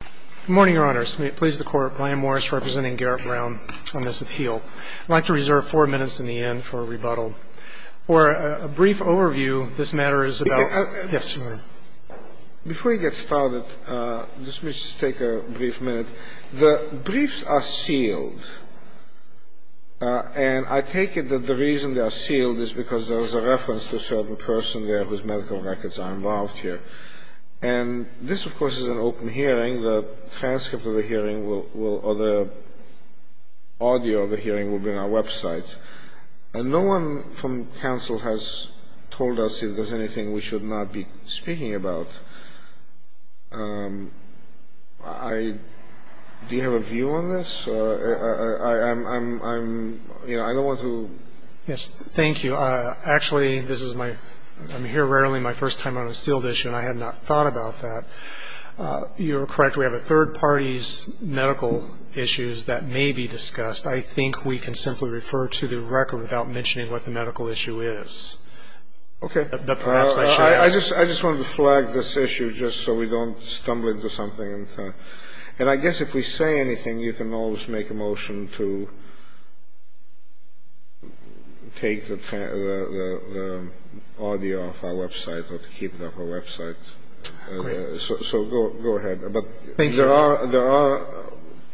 Good morning, Your Honors. I'm pleased to court Brian Morris representing Garrett Brown on this appeal. I'd like to reserve four minutes in the end for rebuttal. For a brief overview, this matter is about Before we get started, let me just take a brief minute. The briefs are sealed, and I take it that the reason they are sealed is because there is a reference to a certain person there whose medical records are involved here. And this, of course, is an open hearing. The transcript of the hearing or the audio of the hearing will be on our website. And no one from counsel has told us if there's anything we should not be speaking about. Do you have a view on this? I don't want to Yes, thank you. Actually, this is my I'm here rarely my first time on a sealed issue, and I had not thought about that. You're correct. We have a third party's medical issues that may be discussed. I think we can simply refer to the record without mentioning what the medical issue is. OK, I just I just want to flag this issue just so we don't stumble into something. And I guess if we say anything, you can always make a motion to take the audio off our website or to keep it off our website. So go ahead. But there are there are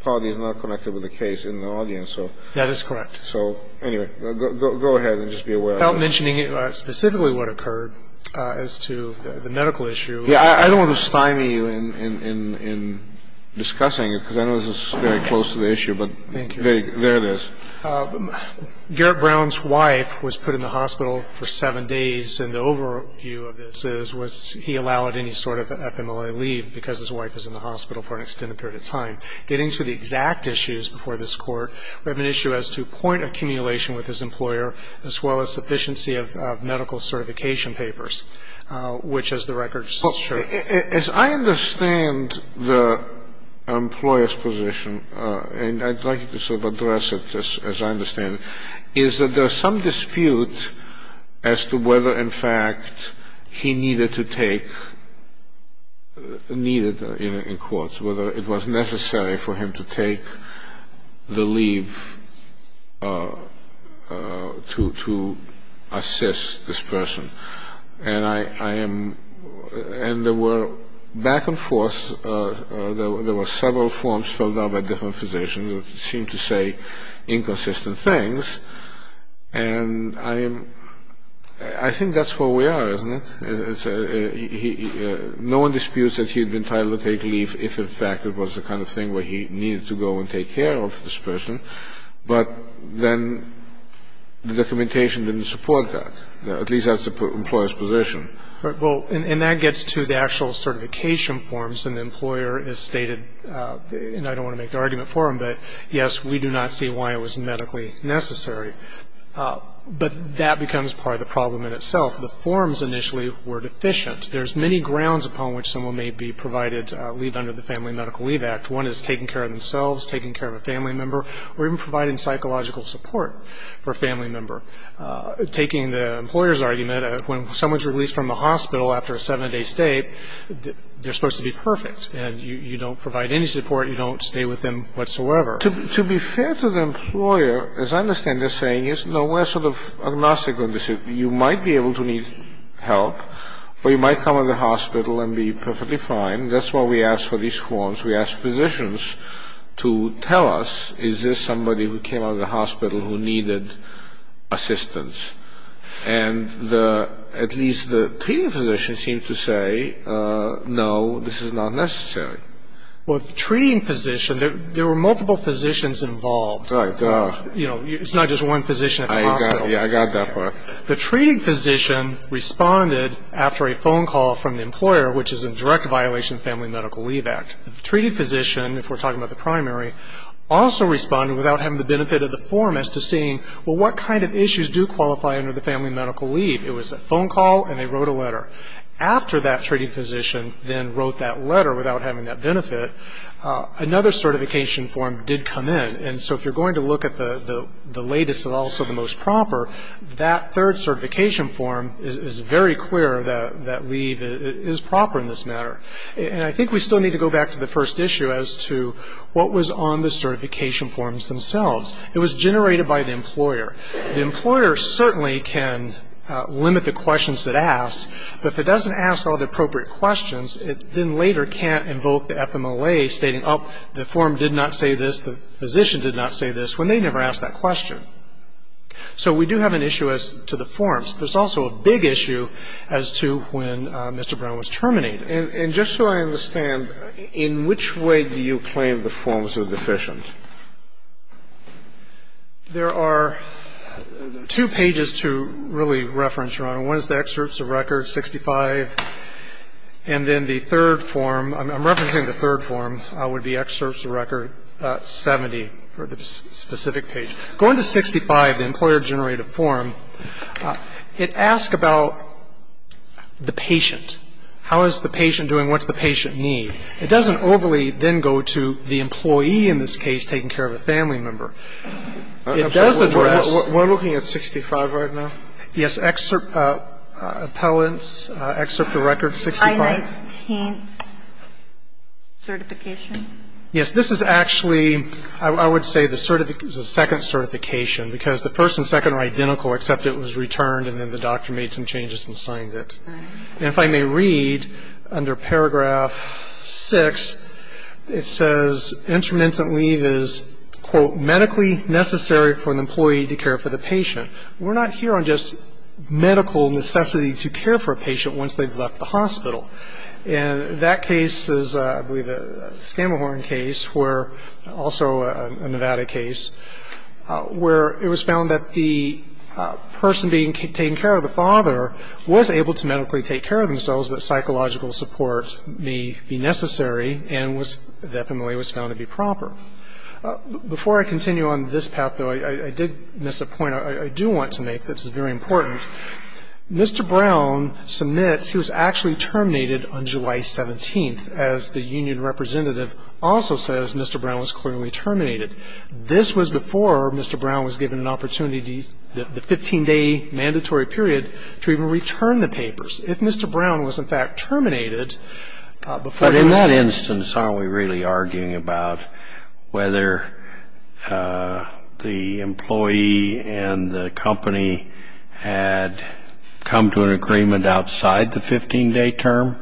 parties not connected with the case in the audience. So that is correct. So anyway, go ahead and just be aware of mentioning specifically what occurred as to the medical issue. Yeah, I don't want to stymie you in discussing it because I know this is very close to the issue, but there it is. Garrett Brown's wife was put in the hospital for seven days. And the overview of this is was he allowed any sort of FMLA leave because his wife is in the hospital for an extended period of time. Getting to the exact issues before this court, we have an issue as to point accumulation with his employer, as well as sufficiency of medical certification papers, which, as the record shows. As I understand the employer's position, and I'd like to sort of address it as I understand it, is that there is some dispute as to whether, in fact, he needed to take needed in quotes, whether it was necessary for him to take the leave to assist this person. And I am and there were back and forth. There were several forms filled out by different physicians that seemed to say inconsistent things. And I am I think that's where we are, isn't it? No one disputes that he had been entitled to take leave if, in fact, it was the kind of thing where he needed to go and take care of this person. But then the documentation didn't support that. At least that's the employer's position. All right. Well, and that gets to the actual certification forms. And the employer has stated, and I don't want to make the argument for him, but, yes, we do not see why it was medically necessary. But that becomes part of the problem in itself. The forms initially were deficient. There's many grounds upon which someone may be provided leave under the Family Medical Leave Act. One is taking care of themselves, taking care of a family member, or even providing psychological support for a family member. Taking the employer's argument, when someone is released from the hospital after a seven-day stay, they're supposed to be perfect. And you don't provide any support. You don't stay with them whatsoever. To be fair to the employer, as I understand this saying, is nowhere sort of agnostic on this issue. You might be able to need help, or you might come out of the hospital and be perfectly fine. That's why we ask for these forms. We ask physicians to tell us, is this somebody who came out of the hospital who needed assistance? And at least the treating physician seemed to say, no, this is not necessary. Well, the treating physician, there were multiple physicians involved. Right. You know, it's not just one physician at the hospital. Yeah, I got that part. The treating physician responded after a phone call from the employer, which is in direct violation of the Family Medical Leave Act. The treating physician, if we're talking about the primary, also responded without having the benefit of the form as to seeing, well, what kind of issues do qualify under the Family Medical Leave? It was a phone call, and they wrote a letter. After that treating physician then wrote that letter without having that benefit, another certification form did come in. And so if you're going to look at the latest and also the most proper, that third certification form is very clear that leave is proper in this matter. And I think we still need to go back to the first issue as to what was on the certification forms themselves. It was generated by the employer. The employer certainly can limit the questions it asks, but if it doesn't ask all the appropriate questions, it then later can't invoke the FMLA stating, oh, the form did not say this. The physician did not say this, when they never asked that question. So we do have an issue as to the forms. There's also a big issue as to when Mr. Brown was terminated. And just so I understand, in which way do you claim the forms are deficient? There are two pages to really reference, Your Honor. One is the excerpts of record 65, and then the third form. I'm referencing the third form would be excerpts of record 70 for the specific page. Go into 65, the employer-generated form. It asks about the patient. How is the patient doing? What does the patient need? It doesn't overly then go to the employee in this case taking care of a family member. It does address. We're looking at 65 right now? Excerpt appellants, excerpt of record 65. Yes, this is actually, I would say, the second certification, because the first and second are identical, except it was returned and then the doctor made some changes and signed it. And if I may read, under paragraph 6, it says, intermittent leave is, quote, medically necessary for an employee to care for the patient. We're not here on just medical necessity to care for a patient once they've left the hospital. And that case is, I believe, a Scamahorn case, also a Nevada case, where it was found that the person being taken care of, the father, was able to medically take care of themselves, but psychological support may be necessary and definitely was found to be proper. Before I continue on this path, though, I did miss a point I do want to make that's very important. Mr. Brown submits he was actually terminated on July 17th, as the union representative also says Mr. Brown was clearly terminated. This was before Mr. Brown was given an opportunity, the 15-day mandatory period, to even return the papers. If Mr. Brown was, in fact, terminated before he was ---- But in that instance, aren't we really arguing about whether the employee and the company had come to an agreement outside the 15-day term?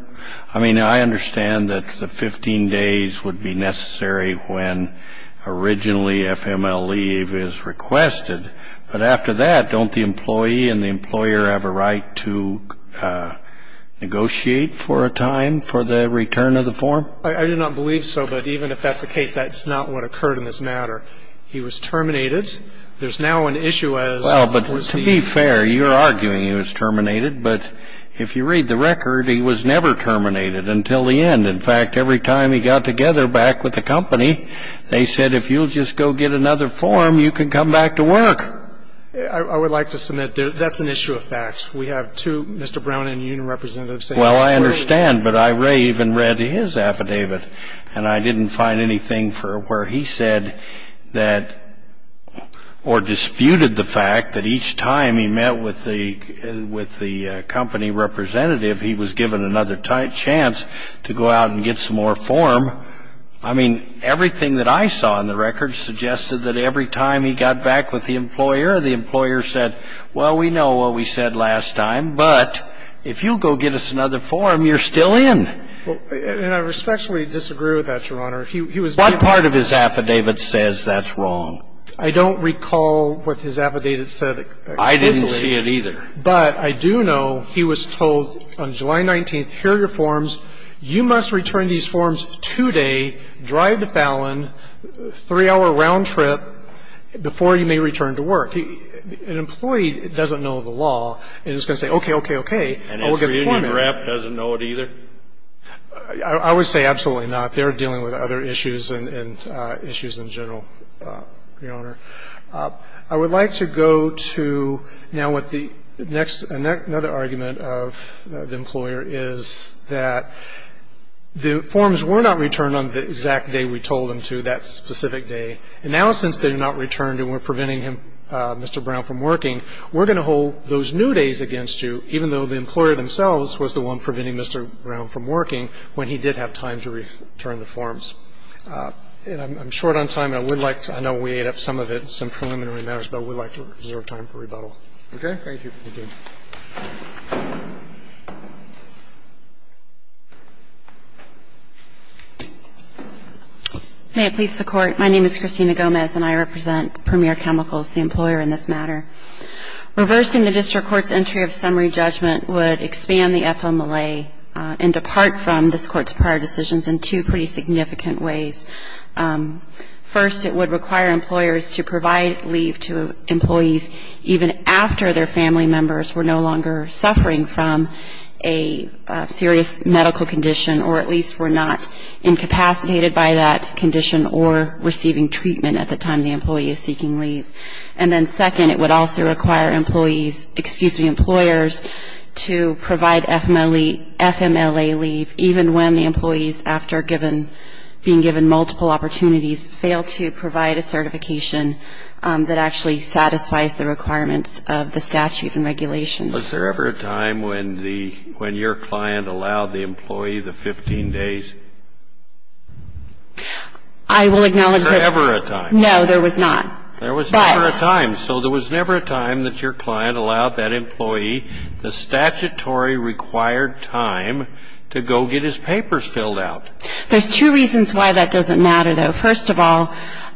I mean, I understand that the 15 days would be necessary when originally FML leave is requested. But after that, don't the employee and the employer have a right to negotiate for a time for the return of the form? I do not believe so, but even if that's the case, that's not what occurred in this matter. He was terminated. There's now an issue as was the ---- Well, but to be fair, you're arguing he was terminated. But if you read the record, he was never terminated until the end. In fact, every time he got together back with the company, they said if you'll just go get another form, you can come back to work. I would like to submit that's an issue of fact. We have two Mr. Brown and union representatives saying it's clearly ---- Well, I understand. But I even read his affidavit, and I didn't find anything where he said that or disputed the fact that each time he met with the company representative, he was given another chance to go out and get some more form. I mean, everything that I saw in the record suggested that every time he got back with the employer, the employer said, well, we know what we said last time, but if you'll go get us another form, you're still in. Well, and I respectfully disagree with that, Your Honor. He was given ---- What part of his affidavit says that's wrong? I don't recall what his affidavit said explicitly. I didn't see it either. But I do know he was told on July 19th, here are your forms. You must return these forms today, drive to Fallon, three-hour round trip before you may return to work. An employee doesn't know the law and is going to say, okay, okay, okay. And his reunion rep doesn't know it either? I would say absolutely not. They're dealing with other issues and issues in general, Your Honor. I would like to go to now what the next ---- another argument of the employer is that the forms were not returned on the exact day we told them to, that specific day. And now since they have not returned and we're preventing him, Mr. Brown, from working, we're going to hold those new days against you, even though the employer themselves was the one preventing Mr. Brown from working when he did have time to return the forms. And I'm short on time. I would like to ---- I know we ate up some of it in some preliminary matters, but I would like to reserve time for rebuttal. Okay? Thank you. May it please the Court. My name is Christina Gomez and I represent Premier Chemicals, the employer in this matter. Reversing the district court's entry of summary judgment would expand the FMLA and depart from this court's prior decisions in two pretty significant ways. First, it would require employers to provide leave to employees even after their family members were no longer suffering from a serious medical condition, or at least were not incapacitated by that condition or receiving treatment at the time the employee is seeking leave. And then second, it would also require employees ---- excuse me, employers to provide FMLA leave even when the employees, after being given multiple opportunities, fail to provide a certification that actually satisfies the requirements of the statute and regulations. Was there ever a time when your client allowed the employee the 15 days? I will acknowledge that ---- Was there ever a time? No, there was not. There was never a time. So there was never a time that your client allowed that employee the statutory required time to go get his papers filled out. There's two reasons why that doesn't matter, though. First of all,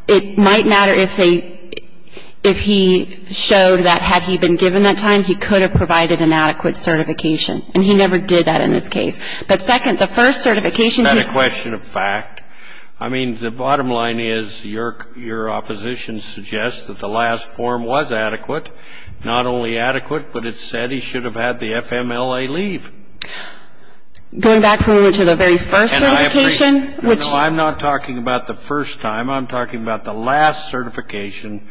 it might matter if they ---- if he showed that had he been given that time, he could have provided an adequate certification. And he never did that in this case. But second, the first certification he ---- Is that a question of fact? I mean, the bottom line is your opposition suggests that the last form was adequate, not only adequate, but it said he should have had the FMLA leave. Going back to the very first certification, which ---- I'm not talking about the first time. I'm talking about the last certification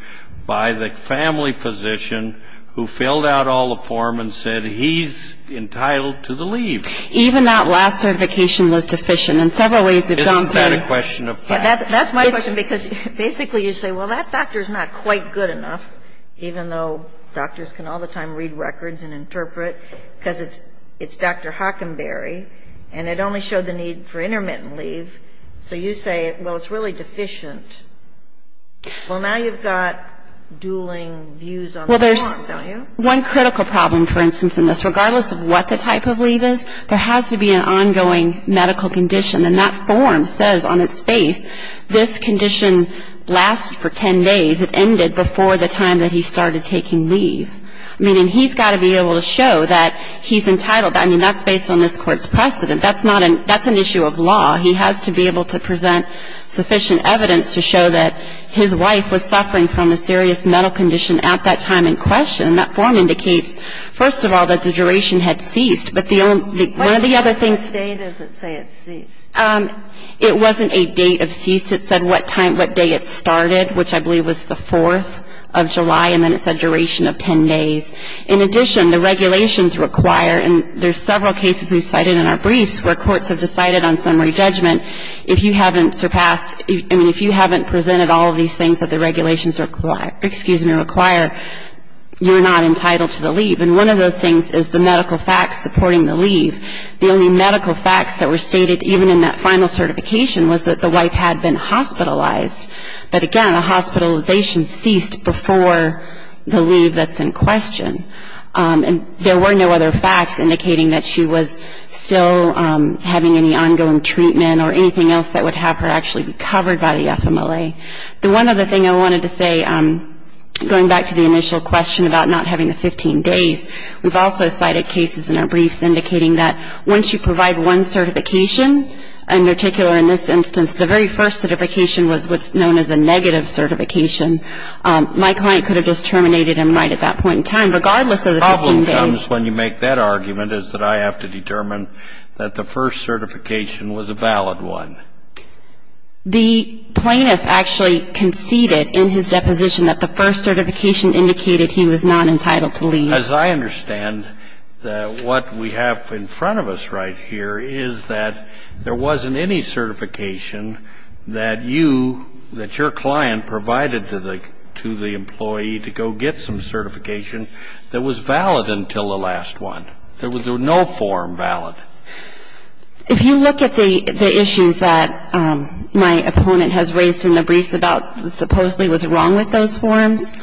by the family physician who filled out all the form and said he's entitled to the leave. Even that last certification was deficient. And several ways we've gone through ---- Isn't that a question of fact? That's my question. Because basically you say, well, that doctor's not quite good enough, even though doctors can all the time read records and interpret, because it's Dr. Hockenberry, and it only showed the need for intermittent leave. So you say, well, it's really deficient. Well, now you've got dueling views on the form, don't you? Well, there's one critical problem, for instance, in this. There has to be an ongoing medical condition, and that form says on its face, this condition lasted for ten days. It ended before the time that he started taking leave. Meaning he's got to be able to show that he's entitled. I mean, that's based on this court's precedent. That's not an ---- that's an issue of law. He has to be able to present sufficient evidence to show that his wife was suffering from a serious mental condition at that time in question. And that form indicates, first of all, that the duration had ceased. But the only ---- One of the other things ---- What part of the date does it say it ceased? It wasn't a date of cease. It said what time, what day it started, which I believe was the 4th of July. And then it said duration of ten days. In addition, the regulations require, and there's several cases we've cited in our briefs where courts have decided on summary judgment. If you haven't surpassed ---- I mean, if you haven't presented all of these things that the regulations require, you're not entitled to the leave. And one of those things is the medical facts supporting the leave. The only medical facts that were stated, even in that final certification, was that the wife had been hospitalized. But again, the hospitalization ceased before the leave that's in question. And there were no other facts indicating that she was still having any ongoing treatment or anything else that would have her actually be covered by the FMLA. Okay. The one other thing I wanted to say, going back to the initial question about not having the 15 days, we've also cited cases in our briefs indicating that once you provide one certification, in particular in this instance, the very first certification was what's known as a negative certification. My client could have just terminated him right at that point in time, regardless of the 15 days. The problem comes when you make that argument, is that I have to determine that the first certification was a valid one. The plaintiff actually conceded in his deposition that the first certification indicated he was not entitled to leave. As I understand, what we have in front of us right here is that there wasn't any certification that you, that your client provided to the employee to go get some certification that was valid until the last one. There was no form valid. If you look at the issues that my opponent has raised in the briefs about supposedly was wrong with those forms,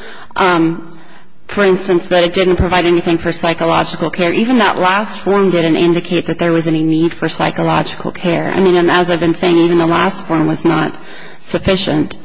for instance, that it didn't provide anything for psychological care, even that last form didn't indicate that there was any need for psychological care. I mean, as I've been saying, even the last form was not sufficient.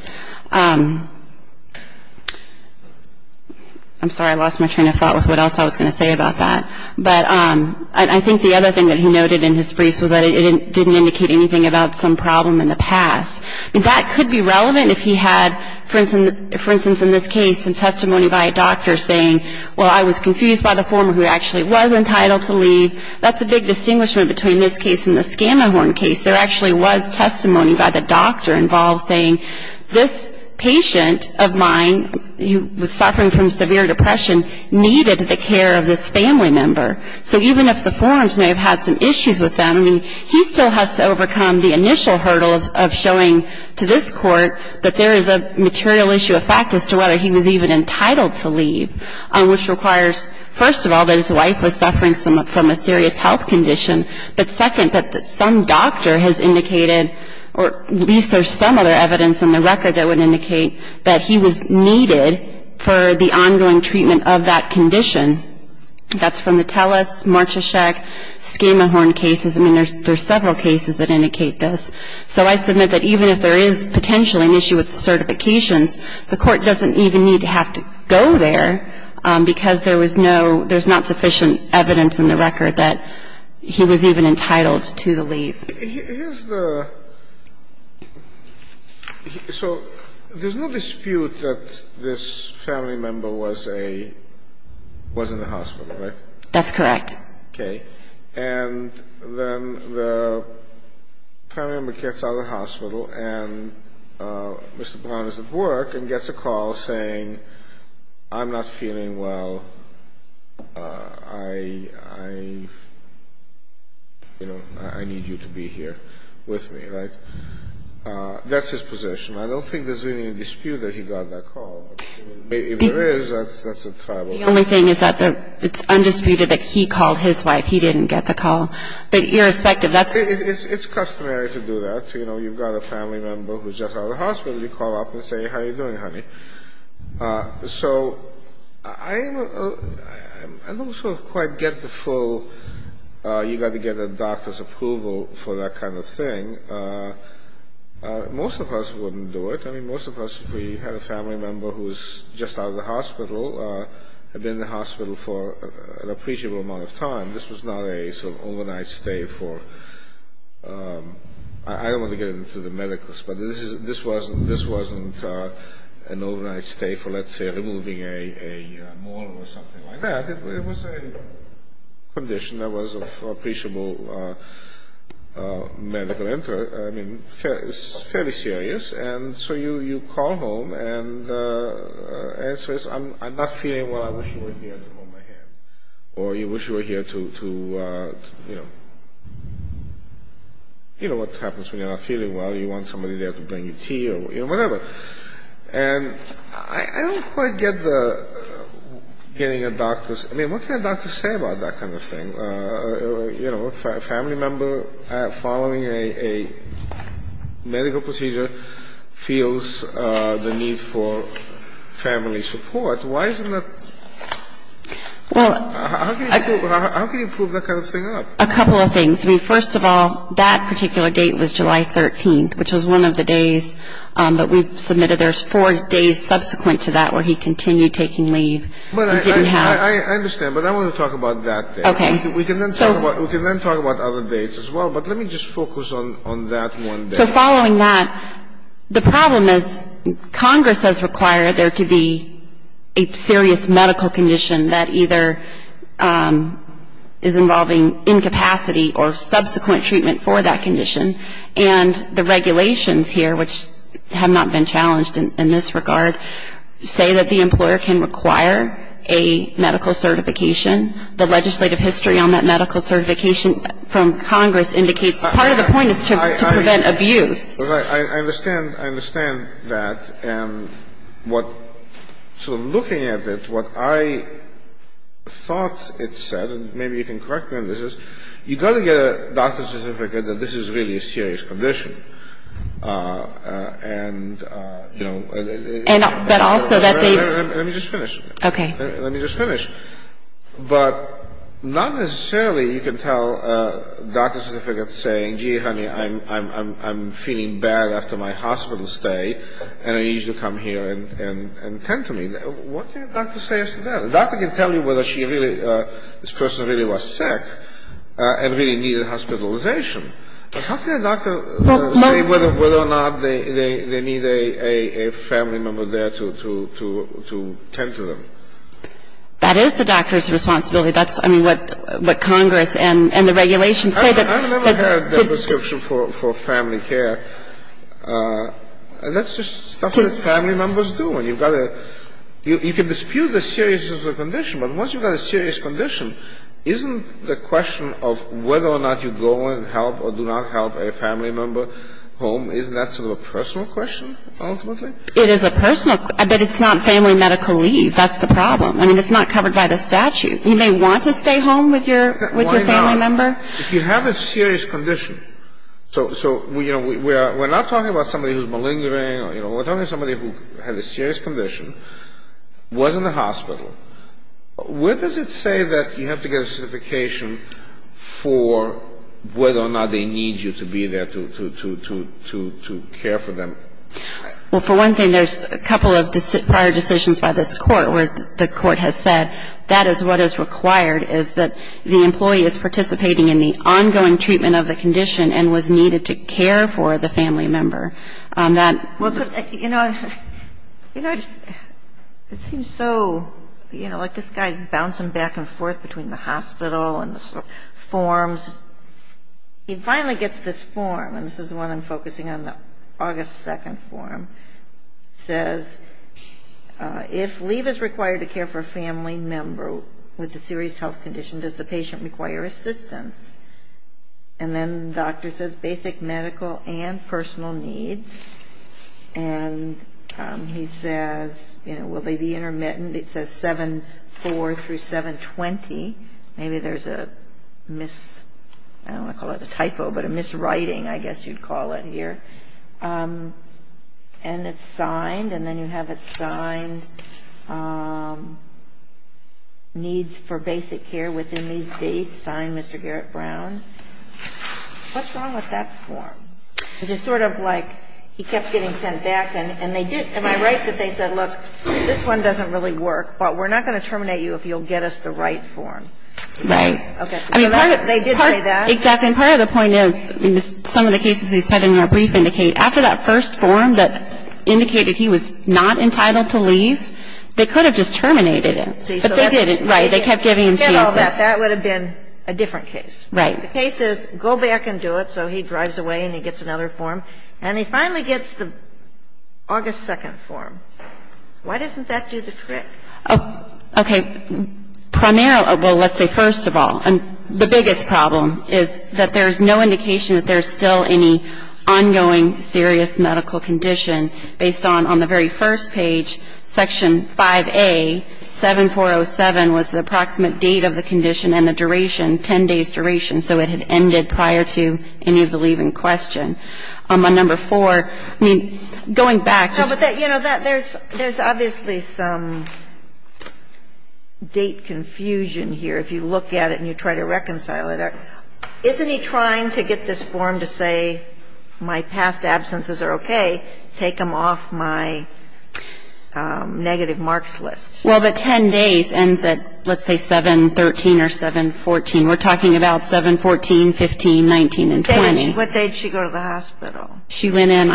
I'm sorry, I lost my train of thought with what else I was going to say about that. But I think the other thing that he noted in his briefs was that it didn't indicate anything about some problem in the past. That could be relevant if he had, for instance, in this case, some testimony by a doctor saying, well, I was confused by the former who actually was entitled to leave. That's a big distinguishment between this case and the Scamahorn case. There actually was testimony by the doctor involved saying, this patient of mine, who was suffering from severe depression, needed the care of this family member. So even if the forms may have had some issues with them, I mean, he still has to overcome the initial hurdle of showing to this court that there is a material issue of fact as to whether he was even entitled to leave, which requires, first of all, that his wife was suffering from a serious health condition, but second, that some doctor has indicated, or at least there's some other evidence in the record that would indicate, that he was needed for the ongoing treatment of that condition. That's from the Telus, Marcheshek, Scamahorn cases. I mean, there's several cases that indicate this. So I submit that even if there is potentially an issue with the certifications, the Court doesn't even need to have to go there because there was no – there's not sufficient evidence in the record that he was even entitled to the leave. Here's the – so there's no dispute that this family member was a – was in the hospital, right? That's correct. Okay. And then the family member gets out of the hospital and Mr. Brown is at work and gets a call saying, I'm not feeling well. I – you know, I need you to be here with me, right? That's his position. I don't think there's any dispute that he got that call. If there is, that's a tribal issue. The only thing is that it's undisputed that he called his wife. He didn't get the call. But irrespective, that's – It's customary to do that. You know, you've got a family member who's just out of the hospital. How are you doing, honey? So I am – I don't sort of quite get the full you've got to get a doctor's approval for that kind of thing. Most of us wouldn't do it. I mean, most of us, if we had a family member who's just out of the hospital, had been in the hospital for an appreciable amount of time. This was not a sort of overnight stay for – I don't want to get into the medicals, but this wasn't an overnight stay for, let's say, removing a molar or something like that. It was a condition that was of appreciable medical interest. I mean, it's fairly serious. And so you call home and the answer is, I'm not feeling well, I wish you were here to hold my hand. Or you wish you were here to – you know what happens when you're not feeling well. You want somebody there to bring you tea or whatever. And I don't quite get the getting a doctor's – I mean, what can a doctor say about that kind of thing? You know, a family member following a medical procedure feels the need for family support. Why isn't that – how can you prove that kind of thing up? A couple of things. I mean, first of all, that particular date was July 13th, which was one of the days that we submitted. There's four days subsequent to that where he continued taking leave. He didn't have – I understand, but I want to talk about that date. Okay. We can then talk about other dates as well, but let me just focus on that one date. So following that, the problem is Congress has required there to be a serious medical condition that either is involving incapacity or subsequent treatment for that condition. And the regulations here, which have not been challenged in this regard, say that the employer can require a medical certification. The legislative history on that medical certification from Congress indicates part of the point is to prevent abuse. I understand. I understand that. And what – sort of looking at it, what I thought it said, and maybe you can correct me on this, is you've got to get a doctor's certificate that this is really a serious condition. And, you know – But also that they – Let me just finish. Okay. Let me just finish. But not necessarily you can tell a doctor's certificate saying, gee, honey, I'm feeling bad after my hospital stay, and I need you to come here and tend to me. What can a doctor say as to that? A doctor can tell you whether she really – this person really was sick and really needed hospitalization. But how can a doctor say whether or not they need a family member there to tend to them? That is the doctor's responsibility. That's, I mean, what Congress and the regulations say. I've never heard that description for family care. That's just stuff that family members do. And you've got to – you can dispute the seriousness of the condition. But once you've got a serious condition, isn't the question of whether or not you go and help or do not help a family member home, isn't that sort of a personal question ultimately? It is a personal – but it's not family medical leave. That's the problem. I mean, it's not covered by the statute. You may want to stay home with your family member. Why not? If you have a serious condition – so, you know, we're not talking about somebody who's malingering. You know, we're talking about somebody who had a serious condition, was in the hospital. Where does it say that you have to get a certification for whether or not they need you to be there to care for them? Well, for one thing, there's a couple of prior decisions by this Court where the Court has said that is what is required is that the employee is participating in the ongoing treatment of the condition and was needed to care for the family member. That – Well, you know, it seems so – you know, like this guy's bouncing back and forth between the hospital and the forms. He finally gets this form, and this is the one I'm focusing on, the August 2nd form. It says, if leave is required to care for a family member with a serious health condition, does the patient require assistance? And then the doctor says basic medical and personal needs. And he says, you know, will they be intermittent? It says 7-4 through 7-20. Maybe there's a mis – I don't want to call it a typo, but a miswriting, I guess you'd call it here. And it's signed, and then you have it signed. Needs for basic care within these dates, signed Mr. Garrett Brown. What's wrong with that form? It's just sort of like he kept getting sent back, and they did – am I right that they said, look, this one doesn't really work, but we're not going to terminate you if you'll get us the right form? Right. Okay. They did say that. Exactly. And part of the point is, some of the cases you said in your brief indicate, after that first form that indicated he was not entitled to leave, they could have just terminated him. But they didn't. Right. They kept giving him chances. Get all that. That would have been a different case. Right. The case is, go back and do it, so he drives away and he gets another form. And he finally gets the August 2nd form. Why doesn't that do the trick? Okay. Primarily – well, let's say first of all. And the biggest problem is that there's no indication that there's still any ongoing serious medical condition based on, on the very first page, Section 5A, 7407 was the approximate date of the condition and the duration, 10 days' duration. So it had ended prior to any of the leave in question. On number 4, I mean, going back, just – You know, there's obviously some date confusion here if you look at it and you try to reconcile it. Isn't he trying to get this form to say my past absences are okay, take them off my negative marks list? Well, the 10 days ends at, let's say, 7-13 or 7-14. We're talking about 7-14, 15, 19, and 20. What date did she go to the hospital? She went in,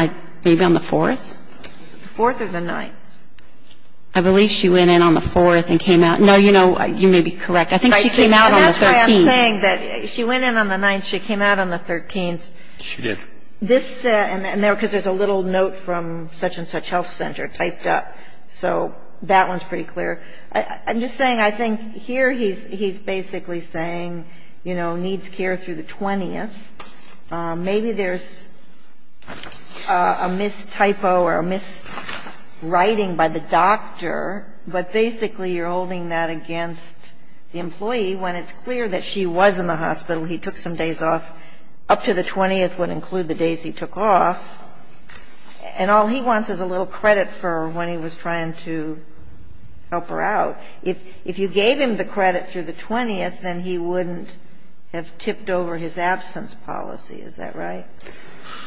maybe on the 4th? The 4th or the 9th. I believe she went in on the 4th and came out. No, you know, you may be correct. I think she came out on the 13th. That's why I'm saying that she went in on the 9th, she came out on the 13th. She did. This – because there's a little note from such-and-such health center typed up. So that one's pretty clear. I'm just saying I think here he's basically saying, you know, needs care through the 20th. Maybe there's a mis-typo or a mis-writing by the doctor, but basically you're holding that against the employee when it's clear that she was in the hospital. He took some days off. Up to the 20th would include the days he took off. And all he wants is a little credit for when he was trying to help her out. If you gave him the credit through the 20th, then he wouldn't have tipped over his absence policy. Is that right?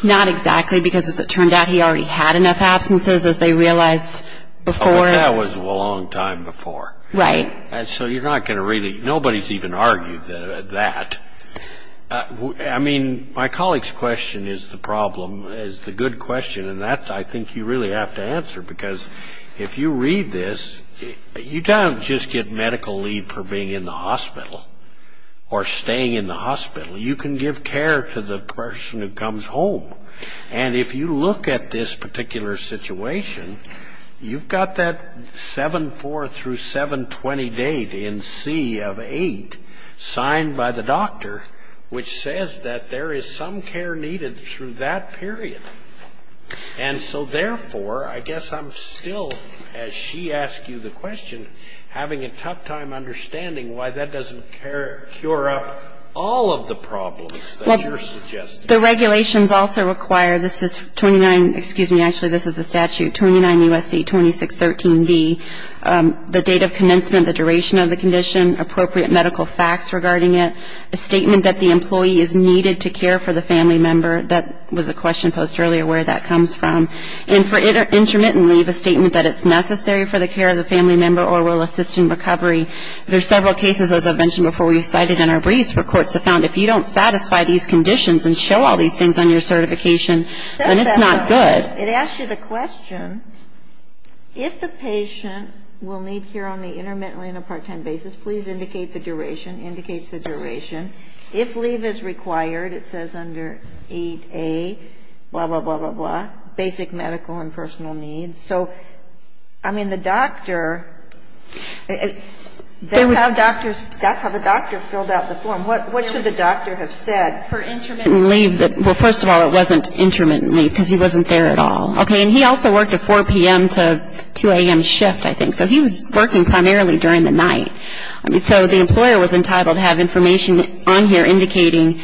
Not exactly because, as it turned out, he already had enough absences, as they realized before. That was a long time before. Right. So you're not going to really – nobody's even argued that. I mean, my colleague's question is the problem, is the good question, and that I think you really have to answer because if you read this, you don't just get medical leave for being in the hospital or staying in the hospital. You can give care to the person who comes home. And if you look at this particular situation, you've got that 7-4 through 7-20 date in C of 8 signed by the doctor, which says that there is some care needed through that period. And so, therefore, I guess I'm still, as she asked you the question, having a tough time understanding why that doesn't cure up all of the problems that you're suggesting. The regulations also require – this is 29 – excuse me, actually, this is the statute – 29 U.S.C. 2613b, the date of commencement, the duration of the condition, appropriate medical facts regarding it, a statement that the employee is needed to care for the family member. That was a question posed earlier where that comes from. And for intermittent leave, a statement that it's necessary for the care of the family member or will assist in recovery. There's several cases, as I've mentioned before, we've cited in our briefs where courts have found if you don't satisfy these conditions and show all these things on your certification, then it's not good. It asks you the question, if the patient will need care only intermittently on a part-time basis, please indicate the duration, indicates the duration. If leave is required, it says under 8A, blah, blah, blah, blah, blah, basic medical and personal needs. So, I mean, the doctor – that's how doctors – that's how the doctor filled out the form. What should the doctor have said? For intermittent leave – well, first of all, it wasn't intermittent leave because he wasn't there at all. Okay. And he also worked a 4 p.m. to 2 a.m. shift, I think. So he was working primarily during the night. I mean, so the employer was entitled to have information on here indicating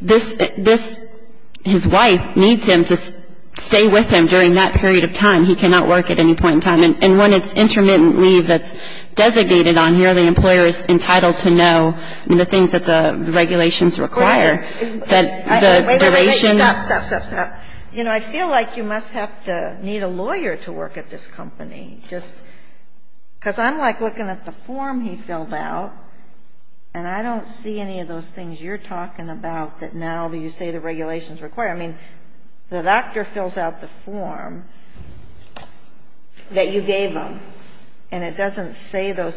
this – this – his wife needs him to stay with him during that period of time. He cannot work at any point in time. And when it's intermittent leave that's designated on here, the employer is entitled to know, I mean, the things that the regulations require, that the duration – Wait a minute. Stop, stop, stop, stop. You know, I feel like you must have to need a lawyer to work at this company. Just – because I'm, like, looking at the form he filled out, and I don't see any of those things you're talking about that now you say the regulations require. I mean, the doctor fills out the form that you gave him, and it doesn't say those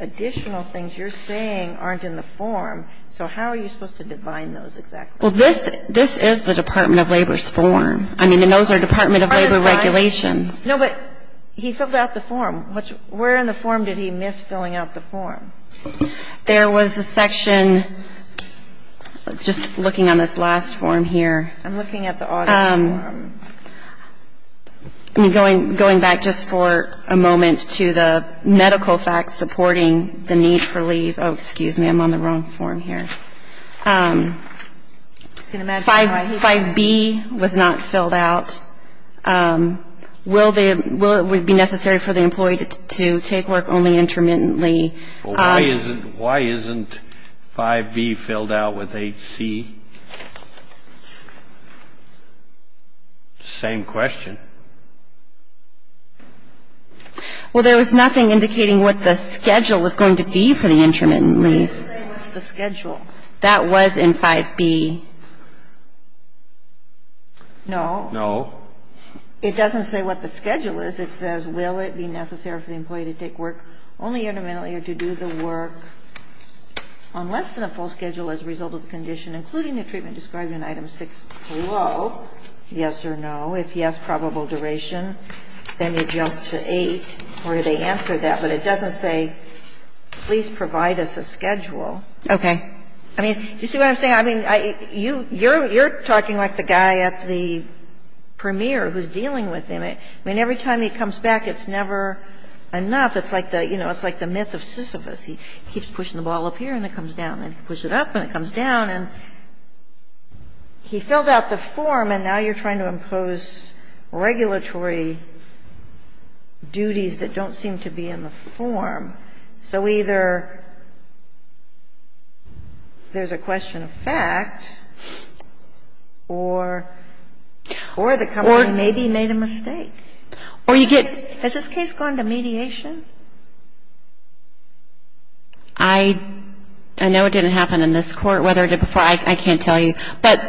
additional things you're saying aren't in the form. So how are you supposed to define those exactly? Well, this – this is the Department of Labor's form. I mean, and those are Department of Labor regulations. No, but he filled out the form. Where in the form did he miss filling out the form? There was a section – just looking on this last form here. I'm looking at the audit form. I'm going back just for a moment to the medical facts supporting the need for leave. Oh, excuse me. I'm on the wrong form here. 5B was not filled out. Will it be necessary for the employee to take work only intermittently? Well, why isn't – why isn't 5B filled out with 8C? Same question. Well, there was nothing indicating what the schedule was going to be for the intermittent leave. It didn't say what's the schedule. That was in 5B. No. No. It doesn't say what the schedule is. It says will it be necessary for the employee to take work only intermittently or to do the work on less than a full schedule as a result of the condition, including the treatment described in Item 6. Hello? Yes or no. If yes, probable duration. Then you jump to 8, where they answer that. But it doesn't say please provide us a schedule. Okay. I mean, do you see what I'm saying? I mean, you're talking like the guy at the premier who's dealing with him. I mean, every time he comes back, it's never enough. It's like the myth of Sisyphus. He keeps pushing the ball up here and it comes down. And he pushes it up and it comes down. And he filled out the form, and now you're trying to impose regulatory duties that don't seem to be in the form. So either there's a question of fact or the company maybe made a mistake. Or you get — Has this case gone to mediation? I know it didn't happen in this Court, whether it did before, I can't tell you. But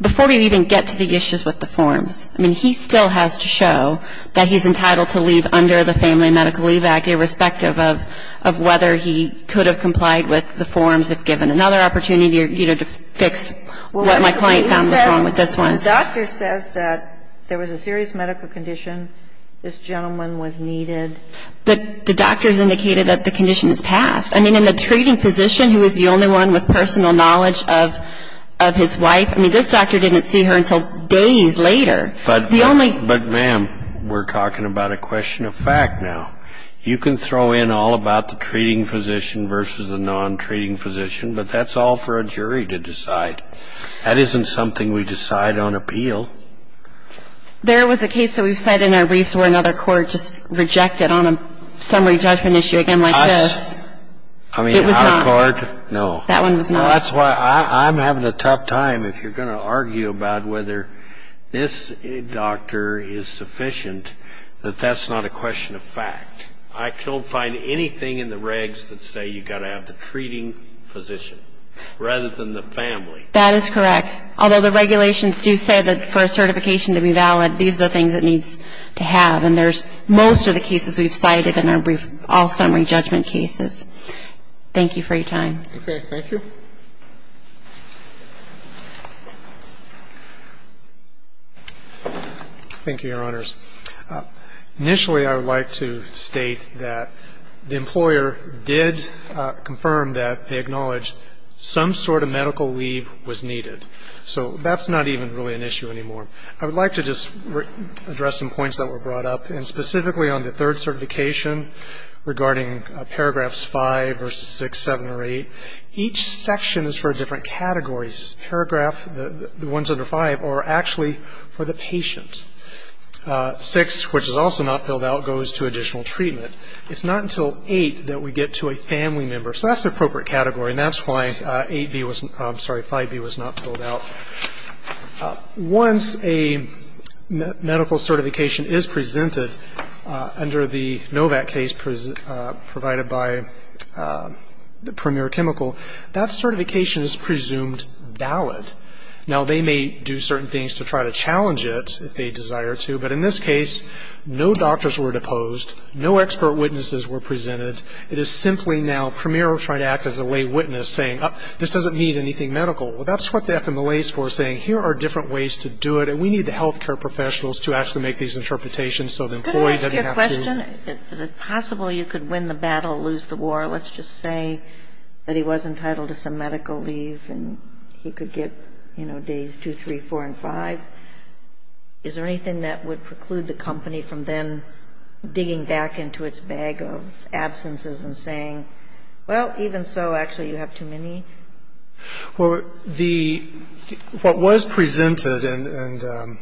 before we even get to the issues with the forms, I mean, he still has to show that he's entitled to leave under the Family Medical Leave Act, irrespective of whether he could have complied with the forms if given another opportunity to fix what my client found was wrong with this one. The doctor says that there was a serious medical condition. This gentleman was needed. The doctor has indicated that the condition has passed. I mean, and the treating physician, who is the only one with personal knowledge of his wife, I mean, this doctor didn't see her until days later. But, ma'am, we're talking about a question of fact now. You can throw in all about the treating physician versus the non-treating physician, but that's all for a jury to decide. That isn't something we decide on appeal. There was a case that we've cited in our briefs where another court just rejected on a summary judgment issue, again, like this. Us? I mean, our court? No. That one was not. That's why I'm having a tough time if you're going to argue about whether this doctor is sufficient, that that's not a question of fact. I don't find anything in the regs that say you've got to have the treating physician rather than the family. That is correct. Although the regulations do say that for a certification to be valid, these are the things it needs to have. And there's most of the cases we've cited in our brief all-summary judgment cases. Thank you for your time. Okay. Thank you. Thank you, Your Honors. Initially, I would like to state that the employer did confirm that they acknowledged some sort of medical leave was needed. So that's not even really an issue anymore. I would like to just address some points that were brought up, and specifically on the third certification regarding paragraphs 5 versus 6, 7 or 8. Each section is for different categories. Paragraph, the ones under 5, are actually for the patient. 6, which is also not filled out, goes to additional treatment. It's not until 8 that we get to a family member. So that's the appropriate category, and that's why 5B was not filled out. Once a medical certification is presented under the NOVAC case provided by Premier Chemical, that certification is presumed valid. Now, they may do certain things to try to challenge it if they desire to, but in this case, no doctors were deposed, no expert witnesses were presented. It is simply now Premier will try to act as a lay witness, saying, this doesn't mean anything medical. Well, that's what the FMLA is for, saying here are different ways to do it, and we need the health care professionals to actually make these interpretations so the employee doesn't have to. Can I ask you a question? Is it possible you could win the battle, lose the war? Let's just say that he was entitled to some medical leave, and he could get, you know, days 2, 3, 4, and 5. Is there anything that would preclude the company from then digging back into its bag of absences and saying, well, even so, actually, you have too many? Well, the – what was presented, and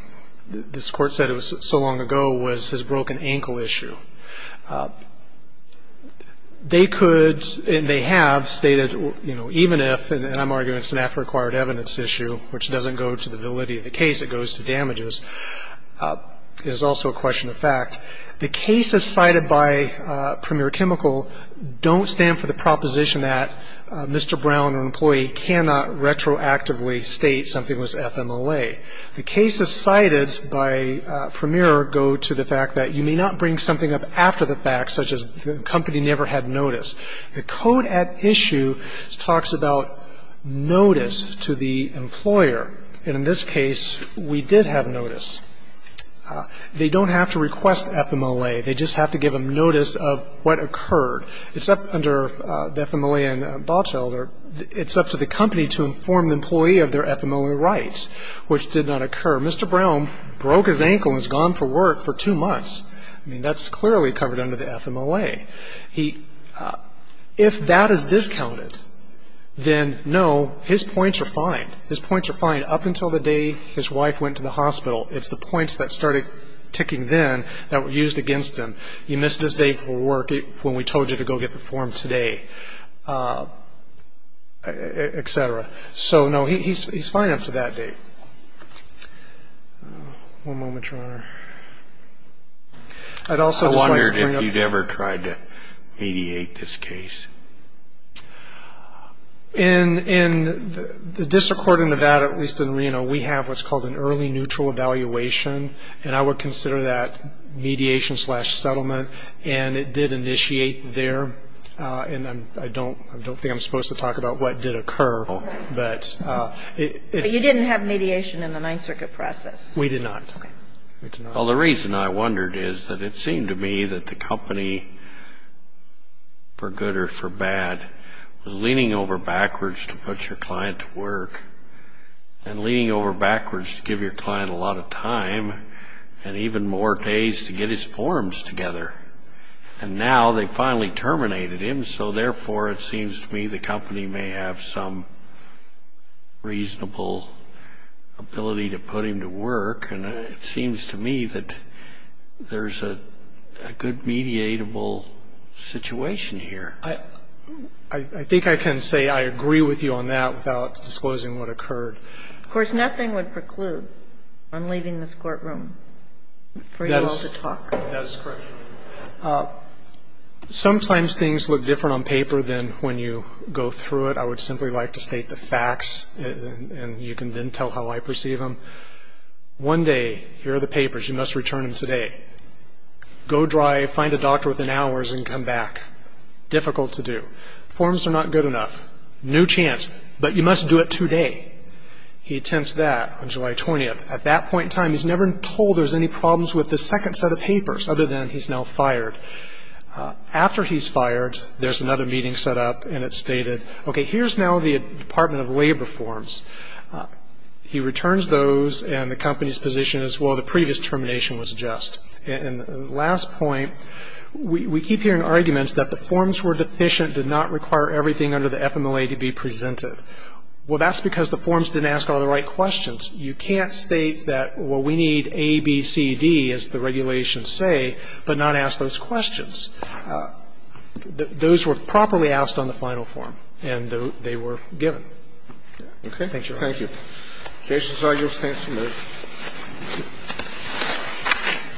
this Court said it was so long ago, was his broken ankle issue. They could and they have stated, you know, even if, and I'm arguing it's an AFRA-acquired evidence issue, which doesn't go to the validity of the case, it goes to damages, is also a question of fact. The cases cited by Premier Chemical don't stand for the proposition that Mr. Brown, an employee, cannot retroactively state something was FMLA. The cases cited by Premier go to the fact that you may not bring something up after the fact, such as the company never had notice. The code at issue talks about notice to the employer, and in this case, we did have notice. They don't have to request FMLA. They just have to give them notice of what occurred. It's up under the FMLA in Botschilder. It's up to the company to inform the employee of their FMLA rights, which did not occur. Mr. Brown broke his ankle and has gone for work for two months. I mean, that's clearly covered under the FMLA. He – if that is discounted, then, no, his points are fine. His points are fine. Up until the day his wife went to the hospital, it's the points that started ticking then that were used against him. You missed this date for work when we told you to go get the form today, et cetera. So, no, he's fine up to that date. One moment, Your Honor. I'd also just like to bring up – I wondered if you'd ever tried to mediate this case. In the district court in Nevada, at least in Reno, we have what's called an early neutral evaluation, and I would consider that mediation-slash-settlement, and it did initiate there. And I don't think I'm supposed to talk about what did occur, but it – But you didn't have mediation in the Ninth Circuit process. We did not. Okay. Well, the reason I wondered is that it seemed to me that the company, for good or for bad, was leaning over backwards to put your client to work and leaning over backwards to give your client a lot of time and even more days to get his forms together. And now they finally terminated him, so therefore it seems to me the company may have some reasonable ability to put him to work, and it seems to me that there's a good mediatable situation here. I think I can say I agree with you on that without disclosing what occurred. Of course, nothing would preclude on leaving this courtroom for you all to talk. That is correct. Sometimes things look different on paper than when you go through it. I would simply like to state the facts, and you can then tell how I perceive them. One day, here are the papers. You must return them today. Go drive, find a doctor within hours, and come back. Difficult to do. Forms are not good enough. New chance, but you must do it today. He attempts that on July 20th. At that point in time, he's never told there's any problems with the second set of papers, other than he's now fired. After he's fired, there's another meeting set up, and it's stated, okay, here's now the Department of Labor forms. He returns those, and the company's position is, well, the previous termination was just. And the last point, we keep hearing arguments that the forms were deficient, did not require everything under the FMLA to be presented. Well, that's because the forms didn't ask all the right questions. You can't state that, well, we need A, B, C, D, as the regulations say, but not ask those questions. Those were properly asked on the final form, and they were given. Okay. Thank you, Your Honor. Thank you. The case is argued, the case is moved.